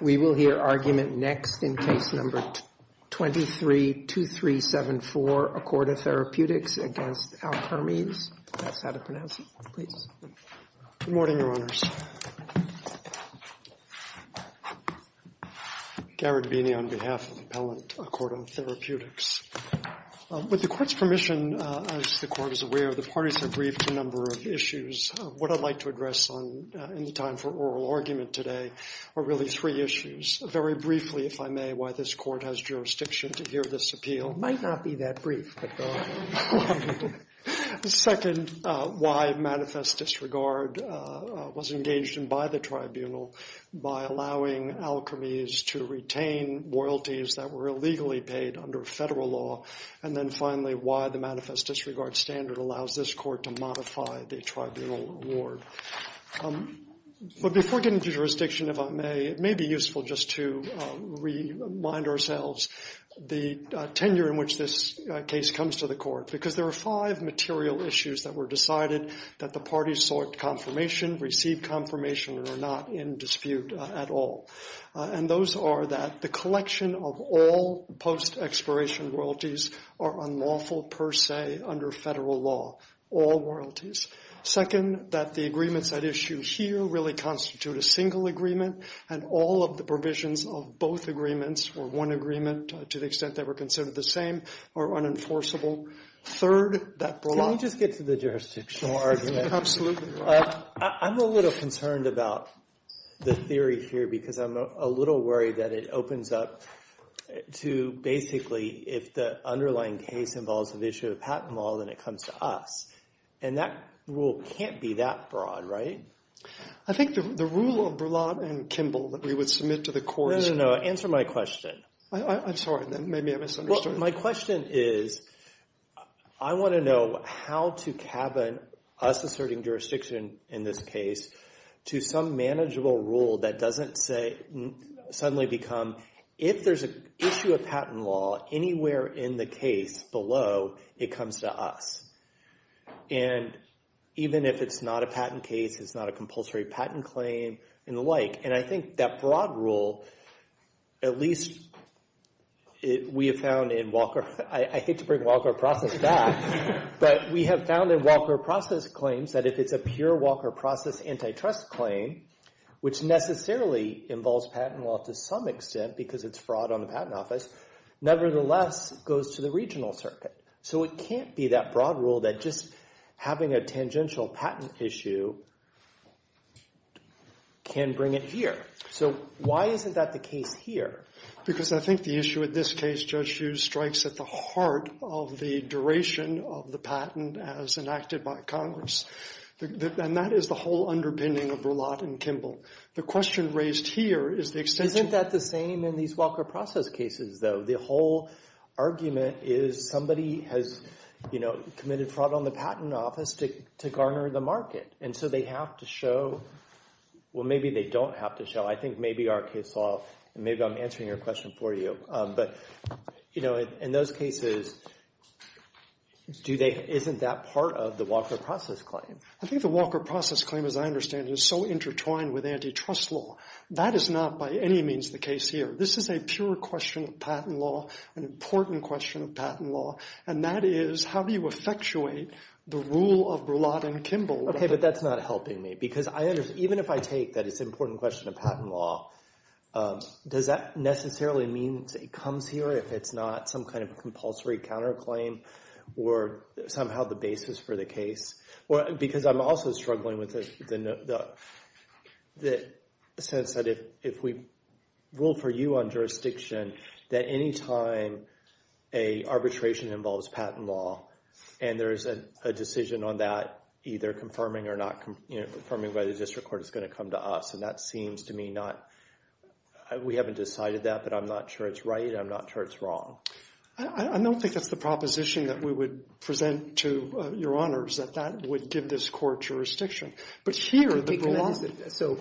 We will hear argument next in Case No. 23-2374, Accorda Therapeutics v. Alkermes. Ask how to pronounce it, please. Good morning, Your Honors. Garrett Beeney on behalf of the Appellant, Accorda Therapeutics. With the Court's permission, as the Court is aware, the parties have briefed a number of issues. What I'd like to address in the time for oral argument today are really three issues. Very briefly, if I may, why this Court has jurisdiction to hear this appeal. Might not be that brief, but go on. Second, why manifest disregard was engaged in by the Tribunal by allowing Alkermes to retain loyalties that were illegally paid under federal law. And then finally, why the manifest disregard standard allows this Court to modify the Tribunal award. But before getting to jurisdiction, if I may, it may be useful just to remind ourselves the tenure in which this case comes to the Court. Because there are five material issues that were decided that the parties sought confirmation, received confirmation, and are not in dispute at all. And those are that the collection of all post-expiration royalties are unlawful per se under federal law. All royalties. Second, that the agreements at issue here really constitute a single agreement. And all of the provisions of both agreements, or one agreement, to the extent they were considered the same, are unenforceable. Third, that brought- Can we just get to the jurisdiction? No argument. Absolutely. I'm a little concerned about the theory here because I'm a little worried that it opens up to basically if the underlying case involves an issue of patent law, then it comes to us. And that rule can't be that broad, right? I think the rule of Berlant and Kimball that we would submit to the Court is- No, no, no. Answer my question. I'm sorry. Maybe I misunderstood. My question is, I want to know how to cabin us asserting jurisdiction in this case to some manageable rule that doesn't suddenly become, if there's an issue of patent law anywhere in the case below, it comes to us. And even if it's not a patent case, it's not a compulsory patent claim, and the like. And I think that broad rule, at least we have found in Walker- I hate to bring Walker Process back, but we have found in Walker Process claims that if it's a pure Walker Process antitrust claim, which necessarily involves patent law to some extent because it's fraud on the Patent Office, nevertheless, it goes to the regional circuit. So it can't be that broad rule that just having a tangential patent issue can bring it here. So why isn't that the case here? Because I think the issue with this case, Judge Hughes, strikes at the heart of the duration of the patent as enacted by Congress. And that is the whole underpinning of Berlant and Kimball. The question raised here is the extension- Isn't that the same in these Walker Process cases, though? The whole argument is somebody has committed fraud on the Patent Office to garner the market. And so they have to show- Well, maybe they don't have to show. I think maybe our case law- And maybe I'm answering your question for you. But in those cases, isn't that part of the Walker Process claim? I think the Walker Process claim, as I understand it, is so intertwined with antitrust law. That is not by any means the case here. This is a pure question of patent law, an important question of patent law. And that is, how do you effectuate the rule of Berlant and Kimball? Okay, but that's not helping me. Because even if I take that it's an important question of patent law, does that necessarily mean it comes here if it's not some kind of compulsory counterclaim or somehow the basis for the case? Because I'm also struggling with the sense that if we rule for you on jurisdiction, that any time an arbitration involves patent law, and there's a decision on that, either confirming or not confirming by the district court, it's going to come to us. And that seems to me not- We haven't decided that, but I'm not sure it's right. I'm not sure it's wrong. I don't think that's the proposition that we would present to your honors, that that would give this court jurisdiction. But here, the block- So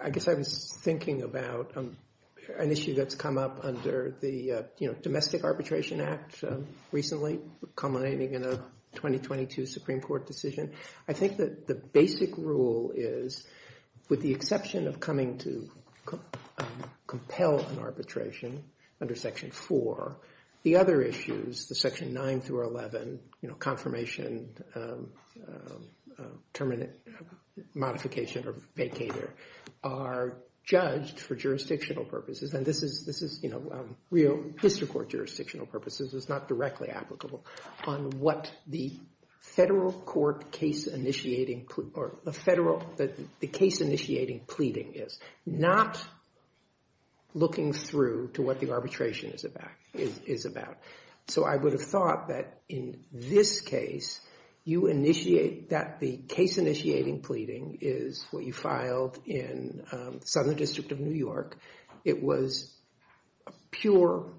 I guess I was thinking about an issue that's come up under the Domestic Arbitration Act recently, culminating in a 2022 Supreme Court decision. I think that the basic rule is, with the exception of coming to compel an arbitration under Section 4, the other issues, the Section 9 through 11, confirmation, terminate, modification, or vacater, are judged for jurisdictional purposes. And this is real history court jurisdictional purposes. It's not directly applicable on what the federal court case-initiating or the case-initiating pleading is, not looking through to what the arbitration is about. So I would have thought that in this case, that the case-initiating pleading is what you filed in Southern District of New York. It was a pure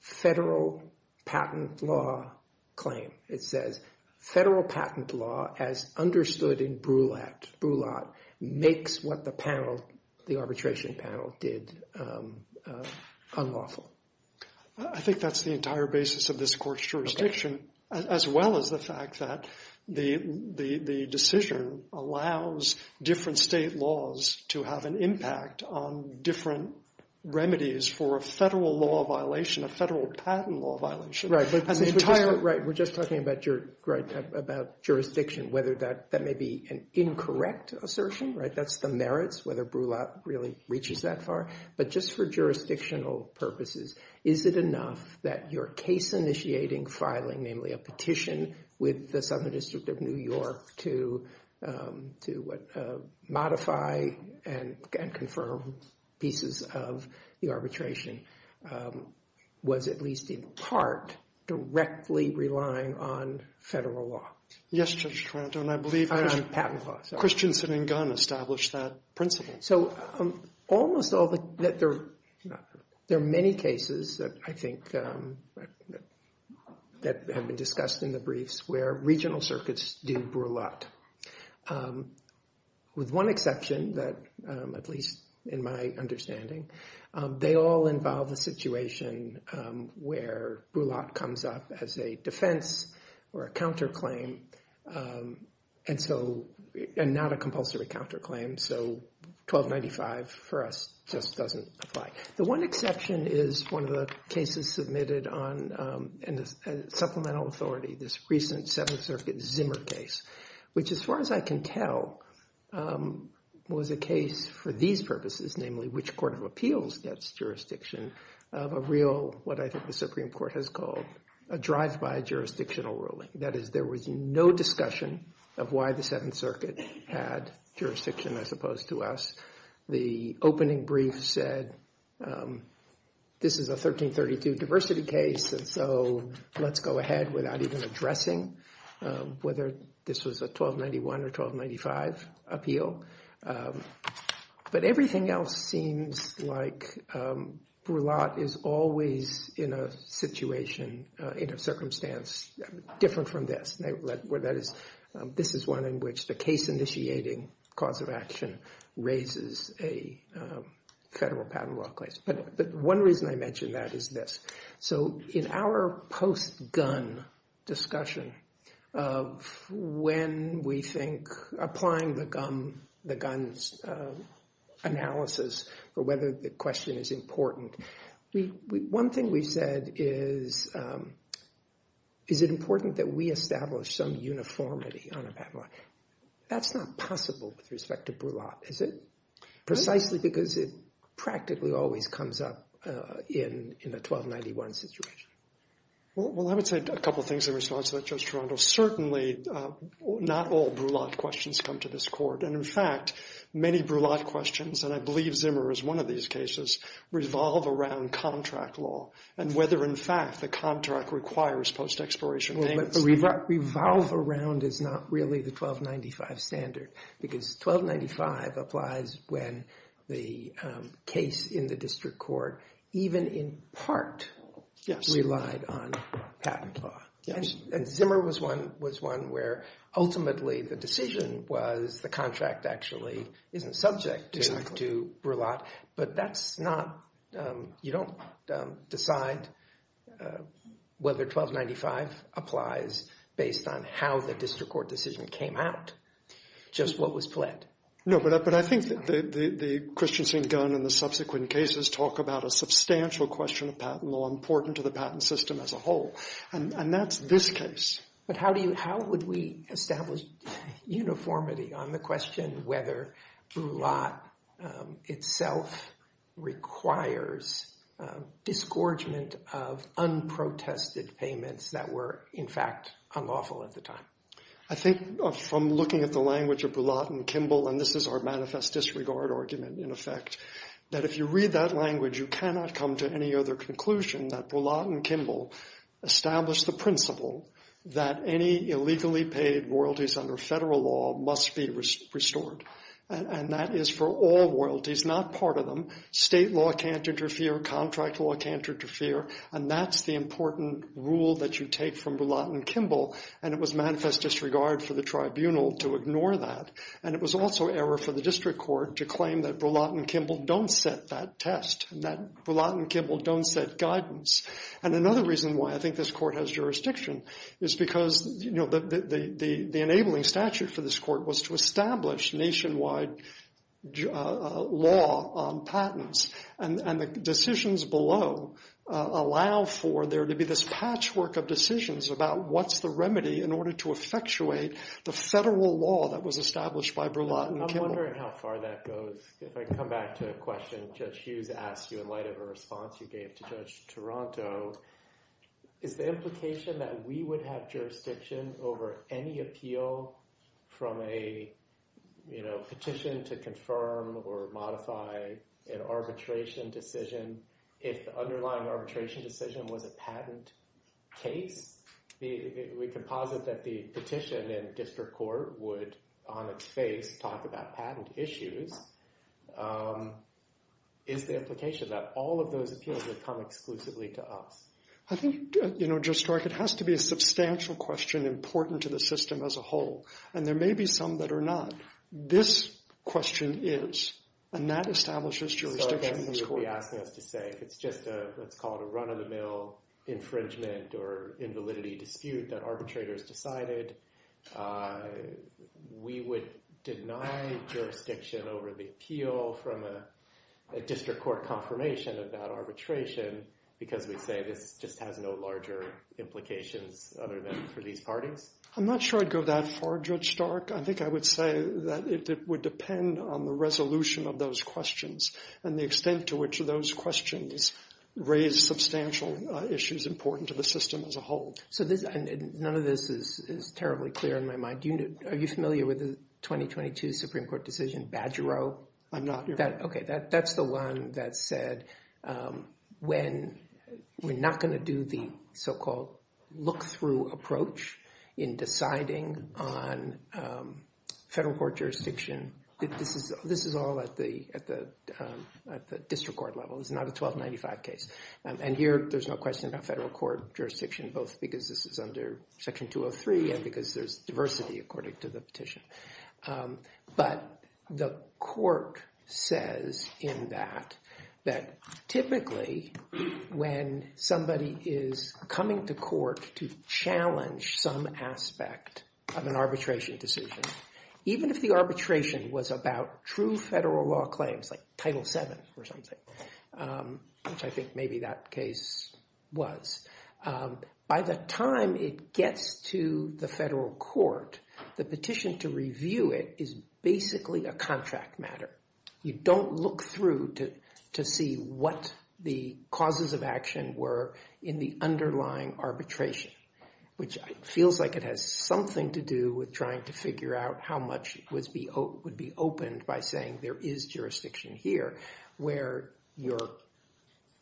federal patent law claim. It says, federal patent law, as understood in Brulat, makes what the panel, the arbitration panel, did unlawful. I think that's the entire basis of this court's jurisdiction, as well as the fact that the decision allows different state laws to have an impact on different remedies for a federal law violation, a federal patent law violation. Right, but the entire- Right, we're just talking about jurisdiction, whether that may be an incorrect assertion, right? That's the merits, whether Brulat really reaches that far. But just for jurisdictional purposes, is it enough that your case-initiating filing, namely a petition with the Southern District of New York to modify and confirm pieces of the arbitration, was at least in part directly relying on federal law? Yes, Judge Carranto, and I believe- Patent law, sorry. Christianson and Gunn established that principle. So almost all the- there are many cases that I think that have been discussed in the briefs where regional circuits do Brulat, with one exception that, at least in my understanding, they all involve a situation where Brulat comes up as a defense or a counterclaim, and not a compulsory counterclaim. So 1295 for us just doesn't apply. The one exception is one of the cases submitted on supplemental authority, this recent Seventh Circuit Zimmer case, which, as far as I can tell, was a case for these purposes, namely which court of appeals gets jurisdiction of a real, what I think the Supreme Court has called, a drive-by jurisdictional ruling. That is, there was no discussion of why the Seventh Circuit had jurisdiction, as opposed to us. The opening brief said, this is a 1332 diversity case, and so let's go ahead without even addressing whether this was a 1291 or 1295 appeal. But everything else seems like Brulat is always in a situation, in a circumstance, different from this, where that is- this is one in which the case-initiating cause of action raises a federal patent law claim. But one reason I mention that is this. So in our post-gun discussion, when we think applying the guns analysis for whether the question is important, one thing we've said is, is it important that we establish some uniformity on a patent law? That's not possible with respect to Brulat, is it? Precisely because it practically always comes up in a 1291 situation. Well, I would say a couple of things in response to that, Judge Toronto. Certainly, not all Brulat questions come to this court, and in fact, many Brulat questions, and I believe Zimmer is one of these cases, revolve around contract law and whether, in fact, the contract requires post-exploration payments. But the revolve around is not really the 1295 standard, because 1295 applies when the case in the district court, even in part, relied on patent law. And Zimmer was one where ultimately the decision was the contract actually isn't subject to Brulat, but that's not- you don't decide whether 1295 applies based on how the district court decision came out, just what was pled. No, but I think the Christiansen gun and the subsequent cases talk about a substantial question of patent law important to the patent system as a whole, and that's this case. But how do you- how would we establish uniformity on the question whether Brulat itself requires disgorgement of unprotested payments that were, in fact, unlawful at the time? I think from looking at the language of Brulat and Kimball, and this is our manifest disregard argument, in effect, that if you read that language, you cannot come to any other conclusion that Brulat and Kimball established the principle that any illegally paid royalties under federal law must be restored, and that is for all royalties, not part of them. State law can't interfere, contract law can't interfere, and that's the important rule that you take from Brulat and Kimball, and it was manifest disregard for the tribunal to ignore that. And it was also error for the district court to claim that Brulat and Kimball don't set that test, and that Brulat and Kimball don't set guidance. And another reason why I think this court has jurisdiction is because, you know, the enabling statute for this court was to establish nationwide law on patents, and the decisions below allow for there to be this patchwork of decisions about what's the remedy in order to effectuate the federal law that was established by Brulat and Kimball. I'm wondering how far that goes. If I come back to a question Judge Hughes asked you in light of a response you gave to Judge Toronto, is the implication that we would have jurisdiction over any appeal from a, you know, petition to confirm or modify an arbitration decision if the underlying arbitration decision was a patent case? We can posit that the petition in district court would, on its face, talk about patent issues. Is the implication that all of those appeals would come exclusively to us? I think, you know, Judge Stark, it has to be a substantial question important to the system as a whole, and there may be some that are not. This question is, and that establishes jurisdiction in this court. I guess you would be asking us to say if it's just a, let's call it a run-of-the-mill infringement or invalidity dispute that arbitrators decided, we would deny jurisdiction over the appeal from a district court confirmation of that arbitration because we'd say this just has no larger implications other than for these parties? I'm not sure I'd go that far, Judge Stark. I think I would say that it would depend on the resolution of those questions and the extent to which those questions raise substantial issues important to the system as a whole. So this, and none of this is terribly clear in my mind. Are you familiar with the 2022 Supreme Court decision, Badgero? I'm not. OK, that's the one that said when we're not going to do the so-called look-through approach in deciding on federal court jurisdiction, this is all at the district court level. It's not a 1295 case. And here, there's no question about federal court jurisdiction, both because this is under Section 203 and because there's diversity, according to the petition. But the court says in that that typically when somebody is coming to court to challenge some aspect of an arbitration decision, even if the arbitration was about true federal law claims like Title VII or something, which I think maybe that case was, by the time it gets to the federal court, the petition to review the case is not going to be a case that's going to be reviewed by the district court. The court to review it is basically a contract matter. You don't look through to see what the causes of action were in the underlying arbitration, which feels like it has something to do with trying to figure out how much would be opened by saying there is jurisdiction here, where your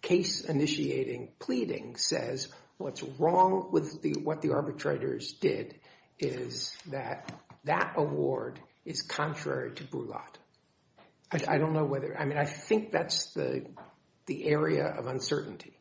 case initiating pleading says what's wrong with what the arbitrators did is that that award is not going to be reviewed. That award is contrary to Brulotte. I don't know whether, I mean, I think that's the area of uncertainty.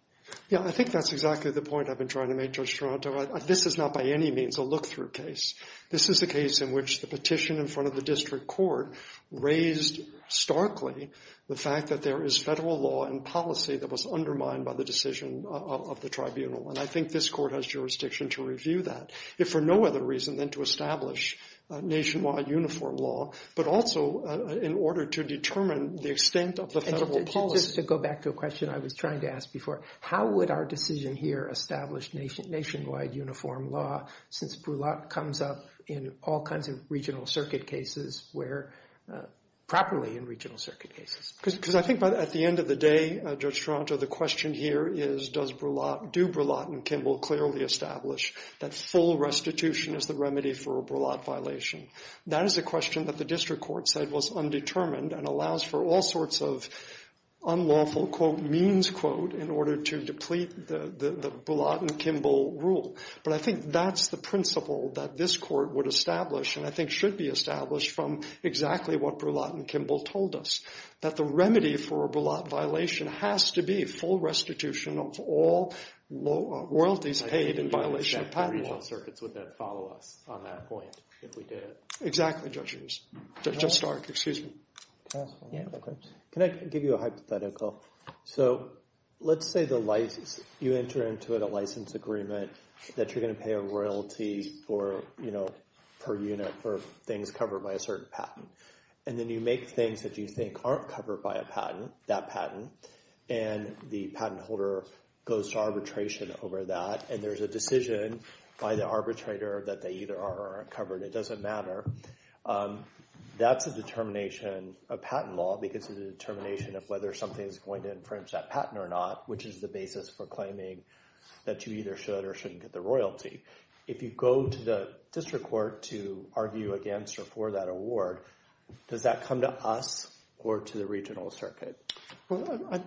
Yeah, I think that's exactly the point I've been trying to make, Judge Toronto. This is not by any means a look-through case. This is the case in which the petition in front of the district court raised starkly the fact that there is federal law and policy that was undermined by the decision of the tribunal. And I think this court has jurisdiction to review that, if for no other reason than to establish nationwide uniform law, but also in order to determine the extent of the federal policy. And just to go back to a question I was trying to ask before, how would our decision here establish nationwide uniform law since Brulotte comes up in all kinds of regional circuit cases where, properly in regional circuit cases? Because I think at the end of the day, Judge Toronto, the question here is, do Brulotte and Kimball clearly establish that full restitution is the remedy for a Brulotte violation? That is a question that the district court said was undetermined and allows for all sorts of unlawful, quote, means, quote, in order to deplete the Brulotte and Kimball rule. But I think that's the principle that this court would establish and I think should be established from exactly what Brulotte and Kimball told us. That the remedy for a Brulotte violation has to be full restitution of all royalties paid in violation of patent law. And the regional circuits would then follow us on that point if we did. Exactly, Judge Stark. Can I give you a hypothetical? So let's say you enter into a license agreement that you're going to pay a royalty per unit for things covered by a certain patent. And then you make things that you think aren't covered by that patent. And the patent holder goes to arbitration over that. And there's a decision by the arbitrator that they either are or aren't covered. It doesn't matter. That's a determination of patent law because of the determination of whether something is going to infringe that patent or not, which is the basis for claiming that you either should or shouldn't get the royalty. If you go to the district court to argue against or for that award, does that come to us or to the regional circuit?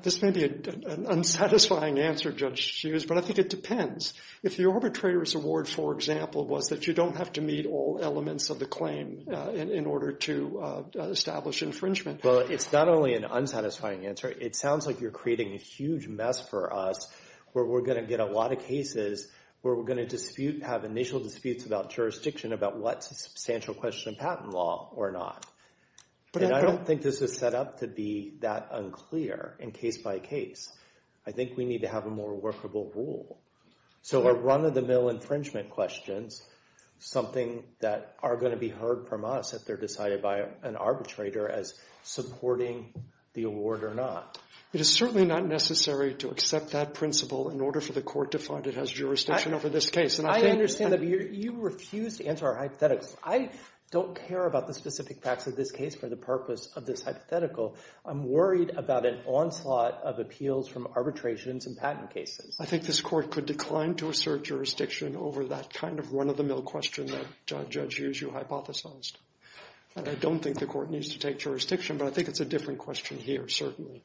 This may be an unsatisfying answer, Judge Hughes, but I think it depends. If the arbitrator's award, for example, was that you don't have to meet all elements of the claim in order to establish infringement. Well, it's not only an unsatisfying answer. It sounds like you're creating a huge mess for us where we're going to get a lot of cases where we're going to have initial disputes about jurisdiction about what's a substantial question of patent law or not. And I don't think this is set up to be that unclear in case by case. I think we need to have a more workable rule. So are run-of-the-mill infringement questions something that are going to be heard from us if they're decided by an arbitrator as supporting the award or not? It is certainly not necessary to accept that principle in order for the court to find it has jurisdiction over this case. I understand that you refuse to answer our hypotheticals. I don't care about the specific facts of this case for the purpose of this hypothetical. I'm worried about an onslaught of appeals from arbitrations and patent cases. I think this court could decline to assert jurisdiction over that kind of run-of-the-mill question that Judge Hughes, you hypothesized. And I don't think the court needs to take jurisdiction, but I think it's a different question here, certainly.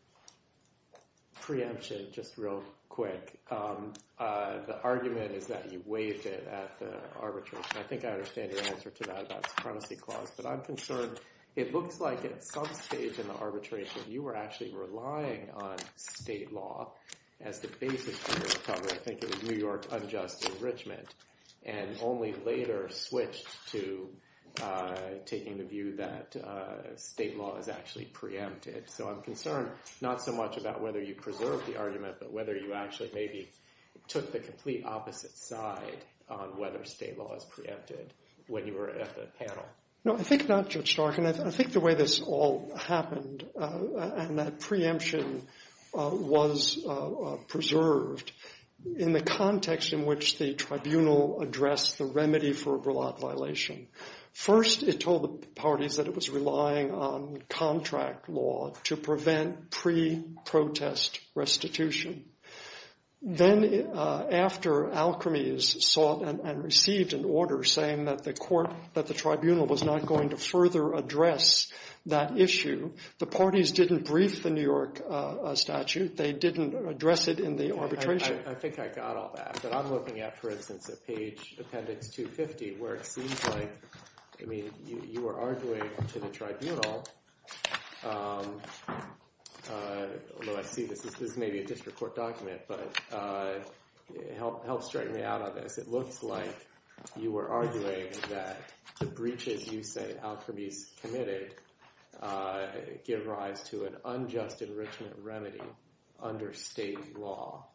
Preemption, just real quick. The argument is that you waived it at the arbitration. I think I understand your answer to that about supremacy clause. But I'm concerned it looks like at some stage in the arbitration you were actually relying on state law as the basis for your recovery. I think it was New York unjust enrichment and only later switched to taking the view that state law is actually preempted. So I'm concerned not so much about whether you preserved the argument but whether you actually maybe took the complete opposite side on whether state law is preempted when you were at the panel. No, I think not, Judge Stark. And I think the way this all happened and that preemption was preserved in the context in which the tribunal addressed the remedy for a Brawlatt violation. First, it told the parties that it was relying on contract law to prevent pre-protest restitution. Then after Alkermes sought and received an order saying that the tribunal was not going to further address that issue, the parties didn't brief the New York statute. They didn't address it in the arbitration. I think I got all that. But I'm looking at, for instance, at page appendix 250 where it seems like you were arguing to the tribunal, although I see this is maybe a district court document, but help strike me out on this. It looks like you were arguing that the breaches you say Alkermes committed give rise to an unjust enrichment remedy under state law.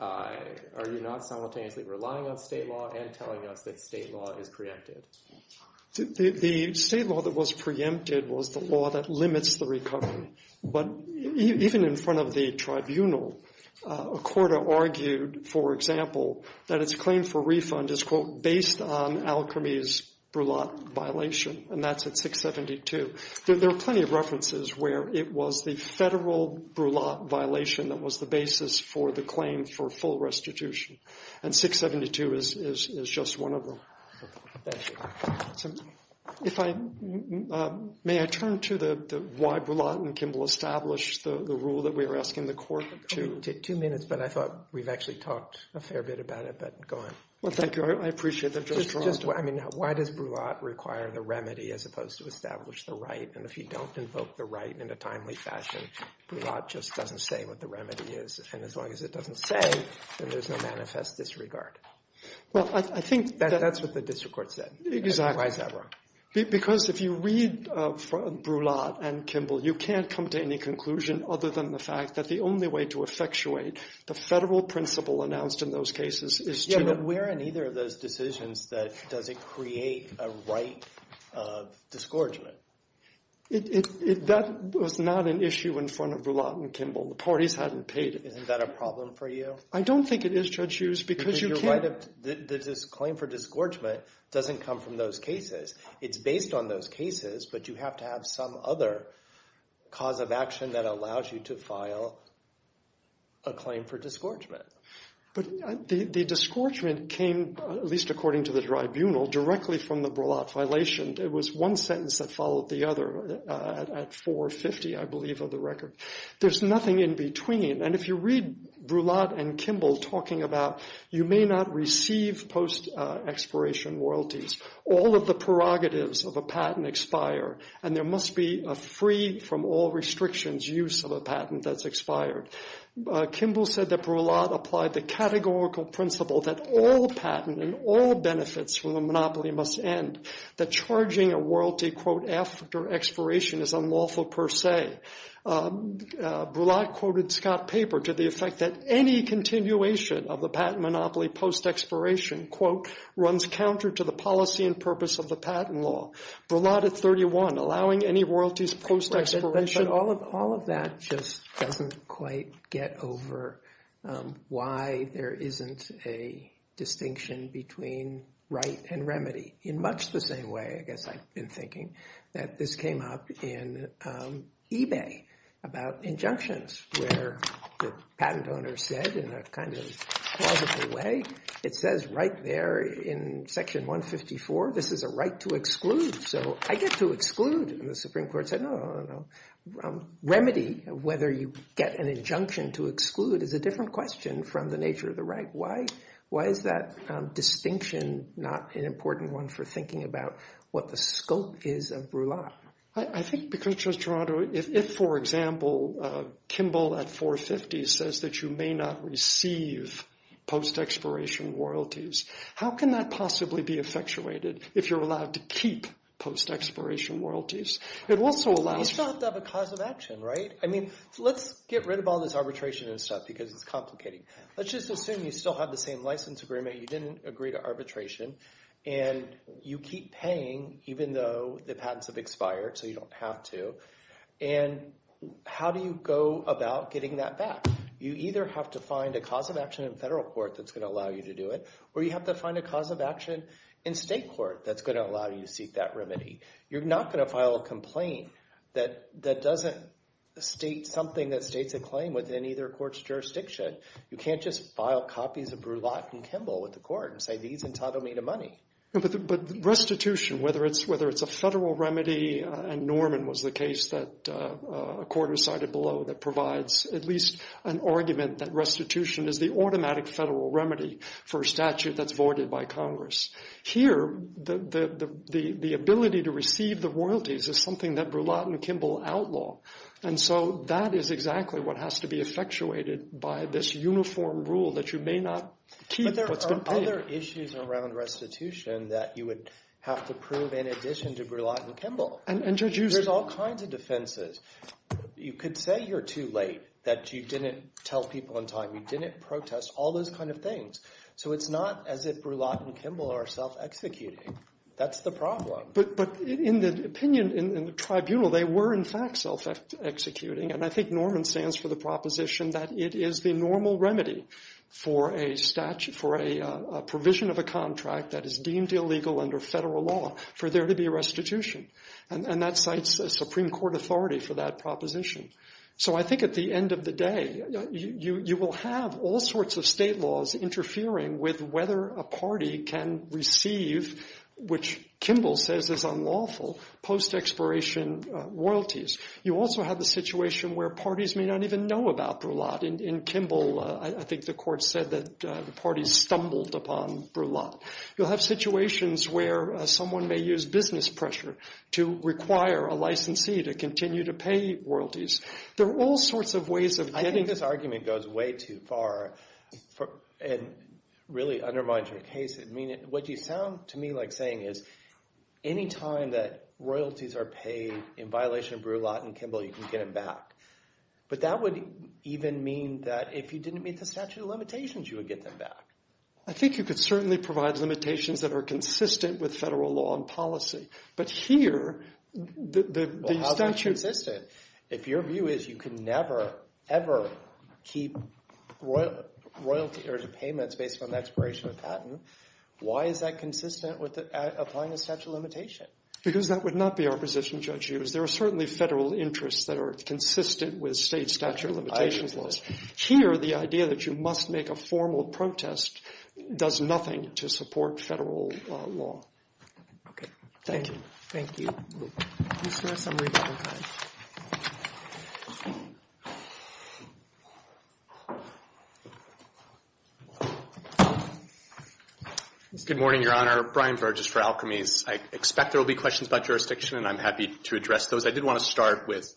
Are you not simultaneously relying on state law and telling us that state law is preempted? The state law that was preempted was the law that limits the recovery. But even in front of the tribunal, a court argued, for example, that its claim for refund is, quote, based on Alkermes' Brawlatt violation. And that's at 672. There are plenty of references where it was the federal Brawlatt violation that was the basis for the claim for full restitution. And 672 is just one of them. Thank you. May I turn to why Brawlatt and Kimball established the rule that we were asking the court to? Two minutes, but I thought we've actually talked a fair bit about it, but go ahead. Well, thank you. I appreciate that. I mean, why does Brawlatt require the remedy as opposed to establish the right? And if you don't invoke the right in a timely fashion, Brawlatt just doesn't say what the remedy is. And as long as it doesn't say, then there's no manifest disregard. Well, I think that's what the district court said. Exactly. Why is that wrong? Because if you read Brawlatt and Kimball, you can't come to any conclusion other than the fact that the only way to effectuate the federal principle announced in those cases is to— But where in either of those decisions does it create a right of disgorgement? That was not an issue in front of Brawlatt and Kimball. The parties hadn't paid it. Isn't that a problem for you? I don't think it is, Judge Hughes, because you can't— Because your claim for disgorgement doesn't come from those cases. It's based on those cases, but you have to have some other cause of action that allows you to file a claim for disgorgement. But the disgorgement came, at least according to the tribunal, directly from the Brawlatt violation. It was one sentence that followed the other at 450, I believe, of the record. There's nothing in between. And if you read Brawlatt and Kimball talking about you may not receive post-expiration royalties, all of the prerogatives of a patent expire, and there must be a free-from-all-restrictions use of a patent that's expired. Kimball said that Brawlatt applied the categorical principle that all patent and all benefits from a monopoly must end, that charging a royalty, quote, after expiration is unlawful per se. Brawlatt quoted Scott Paper to the effect that any continuation of the patent monopoly post-expiration, quote, runs counter to the policy and purpose of the patent law. Brawlatt at 31, allowing any royalties post-expiration— But all of that just doesn't quite get over why there isn't a distinction between right and remedy. In much the same way, I guess I've been thinking, that this came up in eBay about injunctions, where the patent owner said in a kind of plausible way, it says right there in Section 154, this is a right to exclude. So I get to exclude, and the Supreme Court said, no, no, no, no. Remedy, whether you get an injunction to exclude, is a different question from the nature of the right. Why is that distinction not an important one for thinking about what the scope is of Brawlatt? I think because, Judge Toronto, if, for example, Kimball at 450 says that you may not receive post-expiration royalties, how can that possibly be effectuated if you're allowed to keep post-expiration royalties? It also allows— You still have to have a cause of action, right? I mean, let's get rid of all this arbitration and stuff because it's complicating. Let's just assume you still have the same license agreement. You didn't agree to arbitration, and you keep paying even though the patents have expired, so you don't have to. And how do you go about getting that back? You either have to find a cause of action in federal court that's going to allow you to do it, or you have to find a cause of action in state court that's going to allow you to seek that remedy. You're not going to file a complaint that doesn't state something that states a claim within either court's jurisdiction. You can't just file copies of Brawlatt and Kimball with the court and say these entitle me to money. But restitution, whether it's a federal remedy—and Norman was the case that a court recited below that provides at least an argument that restitution is the automatic federal remedy for a statute that's voided by Congress. Here, the ability to receive the royalties is something that Brawlatt and Kimball outlaw, and so that is exactly what has to be effectuated by this uniform rule that you may not keep what's been paid. But there are other issues around restitution that you would have to prove in addition to Brawlatt and Kimball. There's all kinds of defenses. You could say you're too late, that you didn't tell people in time, you didn't protest, all those kind of things. So it's not as if Brawlatt and Kimball are self-executing. That's the problem. But in the opinion in the tribunal, they were in fact self-executing, and I think Norman stands for the proposition that it is the normal remedy for a provision of a contract that is deemed illegal under federal law for there to be a restitution. And that cites a Supreme Court authority for that proposition. So I think at the end of the day, you will have all sorts of state laws interfering with whether a party can receive, which Kimball says is unlawful, post-expiration royalties. You also have the situation where parties may not even know about Brawlatt. In Kimball, I think the court said that the parties stumbled upon Brawlatt. You'll have situations where someone may use business pressure to require a licensee to continue to pay royalties. There are all sorts of ways of getting – I think this argument goes way too far and really undermines your case. What you sound to me like saying is any time that royalties are paid in violation of Brawlatt and Kimball, you can get them back. But that would even mean that if you didn't meet the statute of limitations, you would get them back. I think you could certainly provide limitations that are consistent with federal law and policy. But here, the statute – If your view is you can never, ever keep royalties or payments based on expiration of patent, why is that consistent with applying a statute of limitation? Because that would not be our position, Judge Hughes. There are certainly federal interests that are consistent with state statute of limitations laws. Here, the idea that you must make a formal protest does nothing to support federal law. Okay. Thank you. Thank you. Good morning, Your Honor. Brian Virgis for Alkermes. I expect there will be questions about jurisdiction, and I'm happy to address those. I did want to start with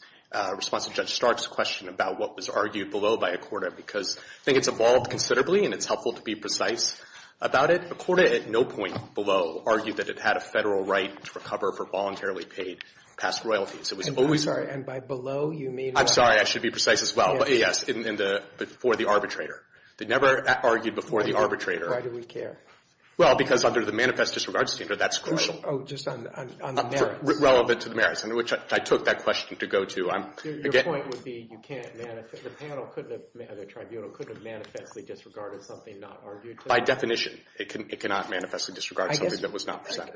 Responsive Judge Stark's question about what was argued below by Accorda, because I think it's evolved considerably, and it's helpful to be precise about it. Accorda at no point below argued that it had a federal right to recover for voluntarily paid past royalties. It was always – And by below, you mean – I'm sorry. I should be precise as well. Yes. Before the arbitrator. They never argued before the arbitrator. Why do we care? Well, because under the manifest disregard standard, that's crucial. Oh, just on the merits. Relevant to the merits, which I took that question to go to. Your point would be you can't – the panel couldn't have – the tribunal couldn't have manifestly disregarded something not argued? By definition, it cannot manifestly disregard something that was not presented. panel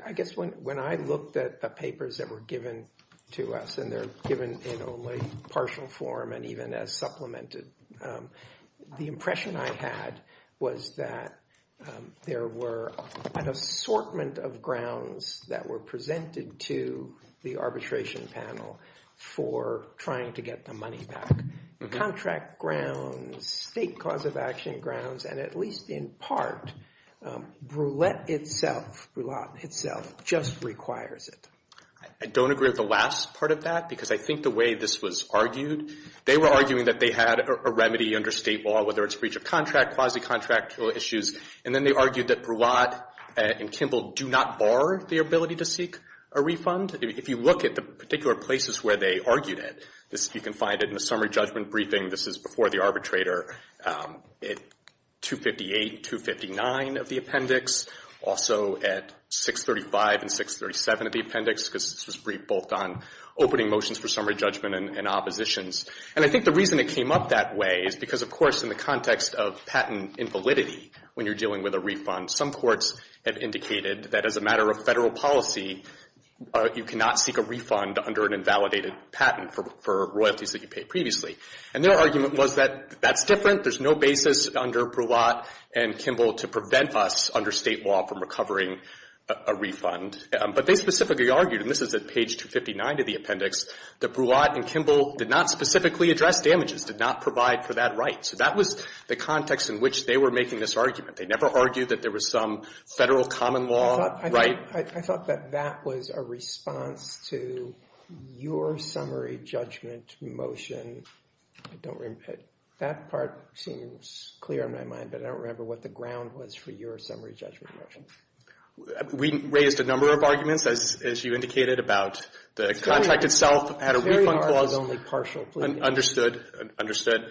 for trying to get the money back. Contract grounds, state cause of action grounds, and at least in part, Brulette itself, Brulotte itself, just requires it. I don't agree with the last part of that, because I think the way this was argued, they were arguing that they had a remedy under state law, whether it's breach of contract, quasi-contractual issues, and then they argued that Brulotte and Kimball do not bar the ability to seek a refund. If you look at the particular places where they argued it, you can find it in the summary judgment briefing. This is before the arbitrator at 258 and 259 of the appendix, also at 635 and 637 of the appendix, because this was briefed both on opening motions for summary judgment and oppositions. And I think the reason it came up that way is because, of course, in the context of patent invalidity when you're dealing with a refund, some courts have indicated that as a matter of Federal policy, you cannot seek a refund under an invalidated patent for royalties that you paid previously. And their argument was that that's different. There's no basis under Brulotte and Kimball to prevent us under state law from recovering a refund. But they specifically argued, and this is at page 259 of the appendix, that Brulotte and Kimball did not specifically address damages, did not provide for that right. So that was the context in which they were making this argument. They never argued that there was some Federal common law right. I thought that that was a response to your summary judgment motion. I don't remember. That part seems clear in my mind, but I don't remember what the ground was for your summary judgment motion. We raised a number of arguments, as you indicated, about the contract itself at a refund clause. Carry R is only partial, please. Understood. Understood.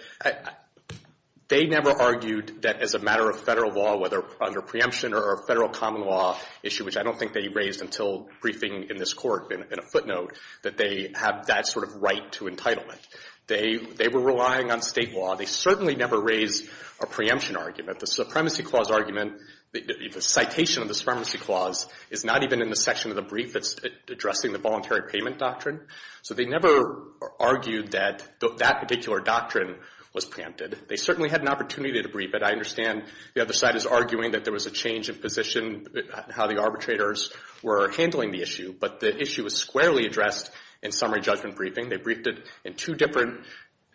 They never argued that as a matter of Federal law, whether under preemption or a Federal common law issue, which I don't think they raised until briefing in this Court in a footnote, that they have that sort of right to entitlement. They were relying on state law. They certainly never raised a preemption argument. The supremacy clause argument, the citation of the supremacy clause, is not even in the section of the brief that's addressing the voluntary payment doctrine. So they never argued that that particular doctrine was preempted. They certainly had an opportunity to brief it. I understand the other side is arguing that there was a change of position, how the arbitrators were handling the issue. But the issue was squarely addressed in summary judgment briefing. They briefed it in two different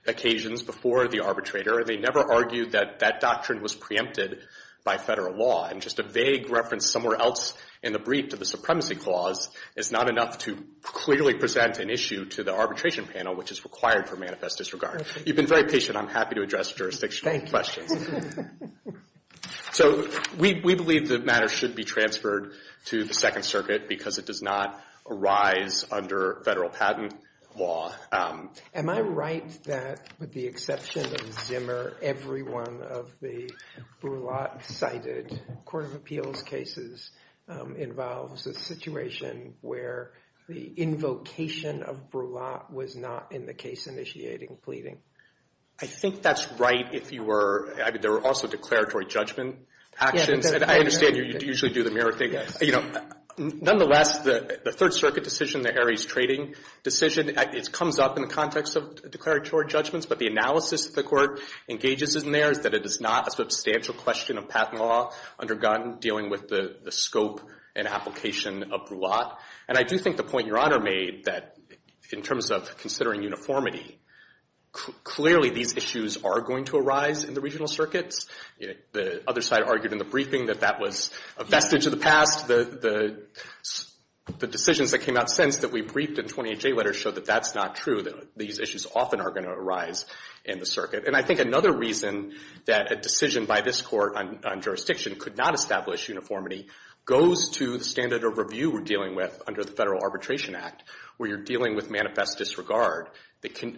occasions before the arbitrator. They never argued that that doctrine was preempted by Federal law. And just a vague reference somewhere else in the brief to the supremacy clause is not enough to clearly present an issue to the arbitration panel, which is required for manifest disregard. You've been very patient. I'm happy to address jurisdictional questions. Thank you. So we believe the matter should be transferred to the Second Circuit because it does not arise under Federal patent law. Am I right that, with the exception of Zimmer, every one of the Brulat-cited court of appeals cases involves a situation where the invocation of Brulat was not in the case initiating pleading? I think that's right if you were. I mean, there were also declaratory judgment actions. And I understand you usually do the mirror thing. You know, nonetheless, the Third Circuit decision, the Aries trading decision, it comes up in the context of declaratory judgments. But the analysis that the Court engages in there is that it is not a substantial question of patent law undergone dealing with the scope and application of Brulat. And I do think the point Your Honor made that, in terms of considering uniformity, clearly these issues are going to arise in the regional circuits. The other side argued in the briefing that that was a vestige of the past. The decisions that came out since that we briefed in 20HA letters showed that that's not true, that these issues often are going to arise in the circuit. And I think another reason that a decision by this Court on jurisdiction could not establish uniformity goes to the standard of review we're dealing with under the Federal Arbitration Act, where you're dealing with manifest disregard.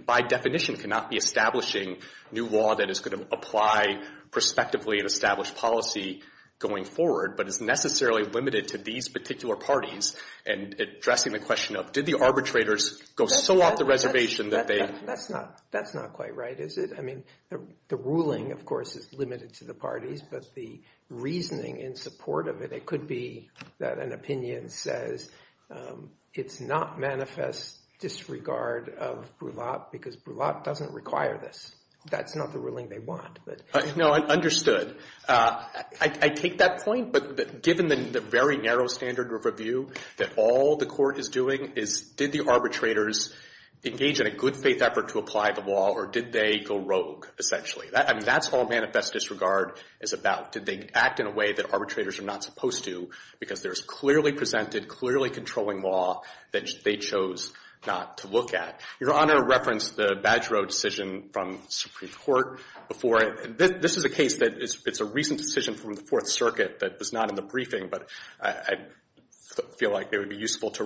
By definition, cannot be establishing new law that is going to apply prospectively and establish policy going forward, but is necessarily limited to these particular parties and addressing the question of, did the arbitrators go so off the reservation that they... That's not quite right, is it? I mean, the ruling, of course, is limited to the parties, but the reasoning in support of it, it could be that an opinion says it's not manifest disregard of Brulat because Brulat doesn't require this. That's not the ruling they want. No, understood. I take that point, but given the very narrow standard of review that all the Court is doing is, did the arbitrators engage in a good-faith effort to apply the law or did they go rogue, essentially? I mean, that's all manifest disregard is about. Did they act in a way that arbitrators are not supposed to because there is clearly presented, clearly controlling law that they chose not to look at. Your Honor referenced the Badgero decision from Supreme Court before. This is a case that is a recent decision from the Fourth Circuit that was not in the briefing, but I feel like it would be useful to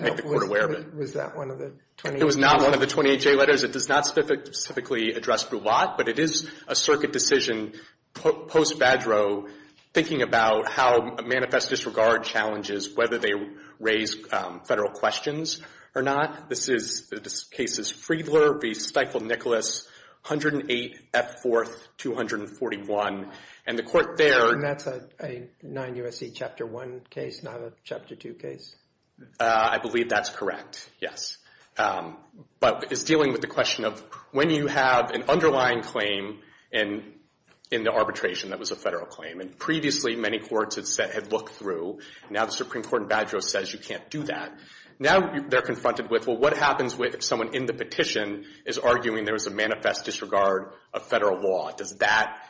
make the Court aware of it. Was that one of the 28J letters? It was not one of the 28J letters. The point is it does not specifically address Brulat, but it is a circuit decision post-Badgero thinking about how manifest disregard challenges whether they raise Federal questions or not. This case is Friedler v. Steiffel-Nicholas, 108 F. 4th, 241. And the Court there. And that's a 9 U.S.C. Chapter 1 case, not a Chapter 2 case? I believe that's correct, yes. But it's dealing with the question of when you have an underlying claim in the arbitration that was a Federal claim, and previously many courts had looked through. Now the Supreme Court in Badgero says you can't do that. Now they're confronted with, well, what happens if someone in the petition is arguing there is a manifest disregard of Federal law? Does that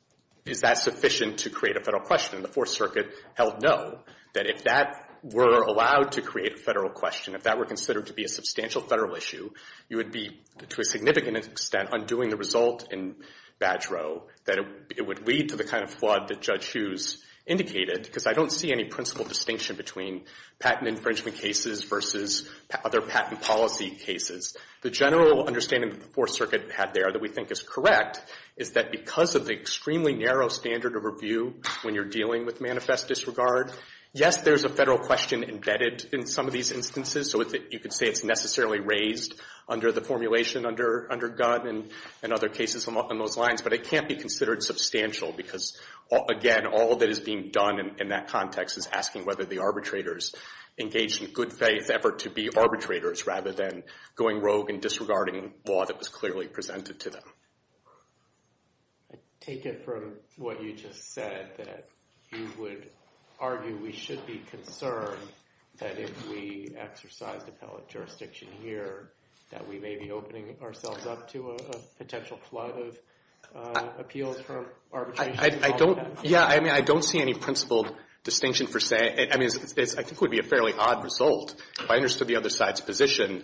— is that sufficient to create a Federal question? The Fourth Circuit held no, that if that were allowed to create a Federal question, if that were considered to be a substantial Federal issue, you would be, to a significant extent, undoing the result in Badgero, that it would lead to the kind of flood that Judge Hughes indicated, because I don't see any principal distinction between patent infringement cases versus other patent policy cases. The general understanding that the Fourth Circuit had there that we think is correct is that because of the extremely narrow standard of review when you're dealing with manifest disregard, yes, there's a Federal question embedded in some of these instances, so you could say it's necessarily raised under the formulation under Gunn and other cases along those lines, but it can't be considered substantial, because, again, all that is being done in that context is asking whether the arbitrators engage in good-faith effort to be arbitrators rather than going rogue and disregarding law that was clearly presented to them. I take it from what you just said, that you would argue we should be concerned that if we exercised appellate jurisdiction here, that we may be opening ourselves up to a potential flood of appeals from arbitration. I don't, yeah, I mean, I don't see any principled distinction for saying, I mean, I think it would be a fairly odd result. If I understood the other side's position,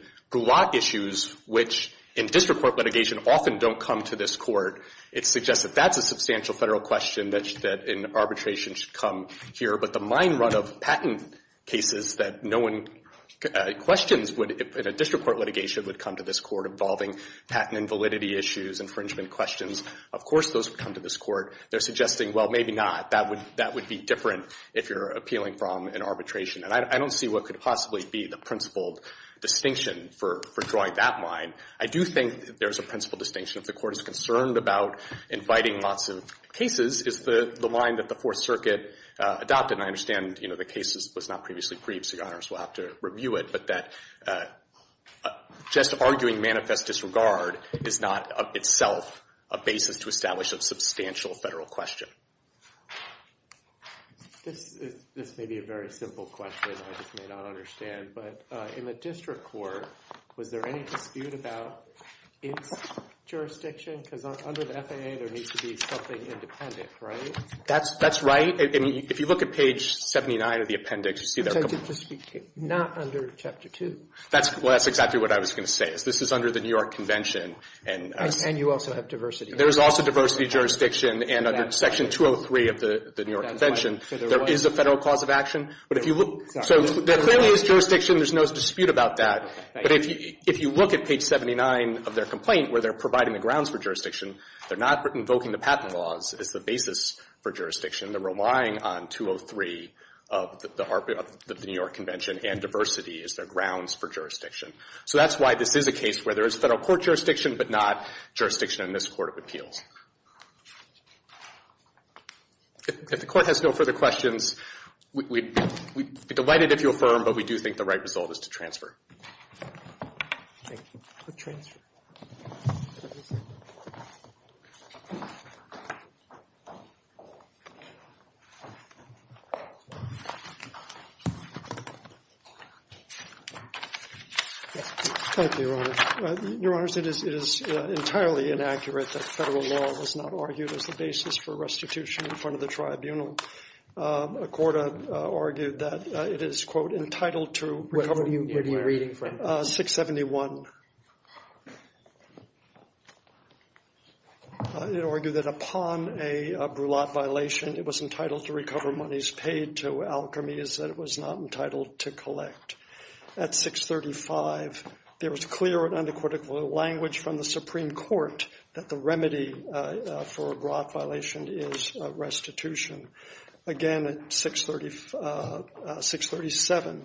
which in district court litigation often don't come to this court, it suggests that that's a substantial Federal question that in arbitration should come here, but the mine run of patent cases that no one questions in a district court litigation would come to this court involving patent invalidity issues, infringement questions, of course those would come to this court. They're suggesting, well, maybe not. That would be different if you're appealing from an arbitration, and I don't see what could possibly be the principled distinction for drawing that line. I do think there's a principled distinction. If the court is concerned about inviting lots of cases, is the line that the Fourth Circuit adopted, and I understand, you know, the case was not previously briefed, so Your Honors will have to review it, but that just arguing manifest disregard is not itself a basis to establish a substantial Federal question. This may be a very simple question. I just may not understand, but in the district court, was there any dispute about its jurisdiction? Because under the FAA, there needs to be something independent, right? That's right. If you look at page 79 of the appendix, you see there are a couple. Not under Chapter 2. Well, that's exactly what I was going to say. This is under the New York Convention. And you also have diversity. There's also diversity jurisdiction, and under Section 203 of the New York Convention, there is a Federal cause of action. So there clearly is jurisdiction. There's no dispute about that. But if you look at page 79 of their complaint where they're providing the grounds for jurisdiction, they're not invoking the patent laws as the basis for jurisdiction. They're relying on 203 of the New York Convention and diversity as their grounds for jurisdiction. So that's why this is a case where there is Federal court jurisdiction but not jurisdiction in this Court of Appeals. If the Court has no further questions, we'd be delighted if you affirm, but we do think the right result is to transfer. Thank you. We'll transfer. Thank you, Your Honor. Your Honor, it is entirely inaccurate that Federal law was not argued as the basis for restitution in front of the tribunal. A court argued that it is, quote, entitled to recover money. Where are you reading from? 671. It argued that upon a brulette violation, it was entitled to recover monies paid to alchemies that it was not entitled to collect. At 635, there was clear and unequivocal language from the Supreme Court that the remedy for a brulette violation is restitution. Again, at 637,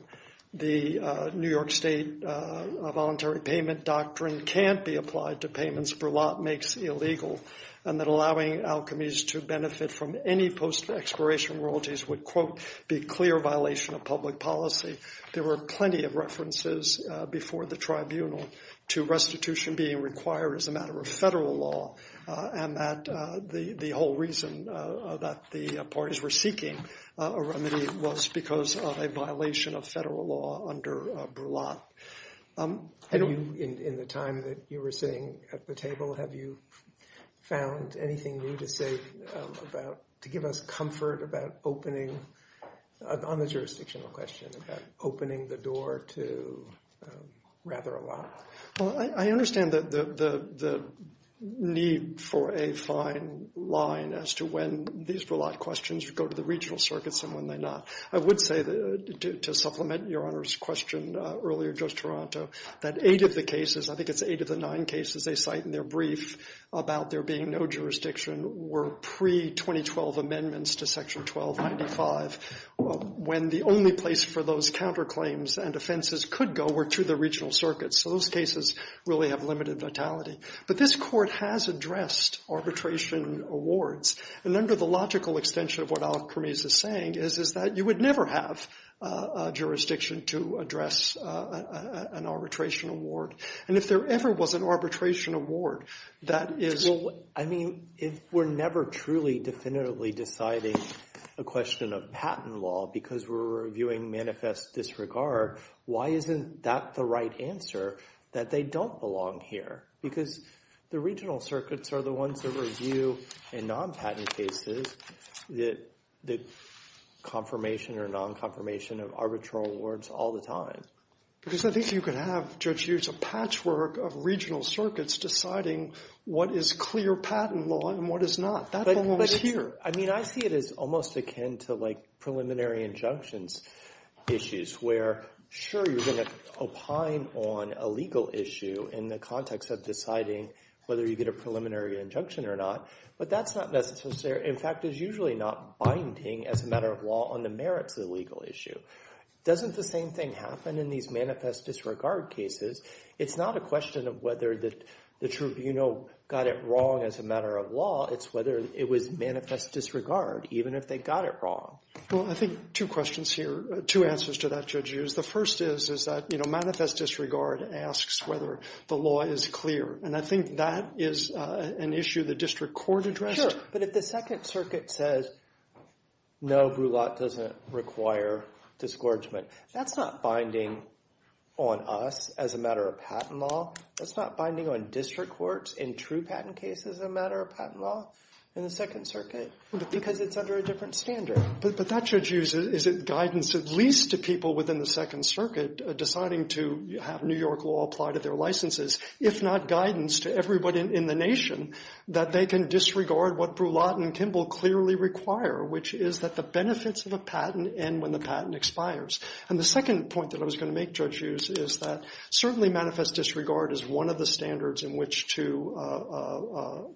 the New York State voluntary payment doctrine can't be applied to payments. Brulette makes illegal, and that allowing alchemies to benefit from any post-exploration royalties would, quote, be a clear violation of public policy. There were plenty of references before the tribunal to restitution being required as a matter of Federal law, and that the whole reason that the parties were seeking a remedy was because of a violation of Federal law under brulette. In the time that you were sitting at the table, have you found anything new to say about, to give us comfort about opening, on the jurisdictional question, about opening the door to rather a lot? I understand the need for a fine line as to when these brulette questions go to the regional circuits and when they're not. I would say, to supplement Your Honor's question earlier, Judge Toronto, that eight of the cases, I think it's eight of the nine cases they cite in their brief about there being no jurisdiction were pre-2012 amendments to Section 1295, when the only place for those counterclaims and offenses could go were to the regional circuits. So those cases really have limited vitality. But this Court has addressed arbitration awards, and under the logical extension of what alchemies is saying is that you would never have a jurisdiction to address an arbitration award. And if there ever was an arbitration award, that is... Well, I mean, if we're never truly definitively deciding a question of patent law because we're reviewing manifest disregard, why isn't that the right answer, that they don't belong here? Because the regional circuits are the ones that review in non-patent cases the confirmation or non-confirmation of arbitration awards all the time. Because I think you could have, Judge Hughes, a patchwork of regional circuits deciding what is clear patent law and what is not. That belongs here. I mean, I see it as almost akin to, like, preliminary injunctions issues where, sure, you're going to opine on a legal issue in the context of deciding whether you get a preliminary injunction or not, but that's not necessarily... In fact, it's usually not binding as a matter of law on the merits of the legal issue. Doesn't the same thing happen in these manifest disregard cases? It's not a question of whether the tribunal got it wrong as a matter of law. It's whether it was manifest disregard, even if they got it wrong. Well, I think two questions here, two answers to that, Judge Hughes. The first is that manifest disregard asks whether the law is clear, and I think that is an issue the district court addressed. Sure, but if the Second Circuit says, no, brulette doesn't require discouragement, that's not binding on us as a matter of patent law. That's not binding on district courts in true patent cases as a matter of patent law in the Second Circuit because it's under a different standard. But that, Judge Hughes, is it guidance at least to people within the Second Circuit deciding to have New York law apply to their licenses, if not guidance to everybody in the nation that they can disregard what brulette and Kimball clearly require, which is that the benefits of a patent end when the patent expires. And the second point that I was going to make, Judge Hughes, is that certainly manifest disregard is one of the standards in which to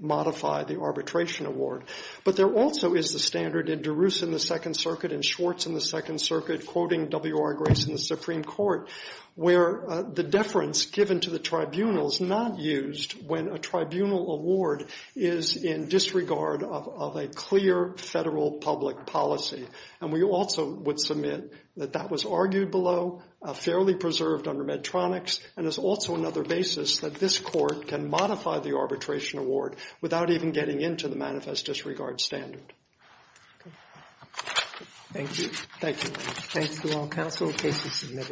modify the arbitration award. But there also is the standard in DeRusse in the Second Circuit and Schwartz in the Second Circuit, quoting W.R. Grace in the Supreme Court, where the deference given to the tribunal is not used when a tribunal award is in disregard of a clear federal public policy. And we also would submit that that was argued below, fairly preserved under Medtronics, and is also another basis that this court can modify the arbitration award without even getting into the manifest disregard standard. Thank you. Thank you. Thank you all.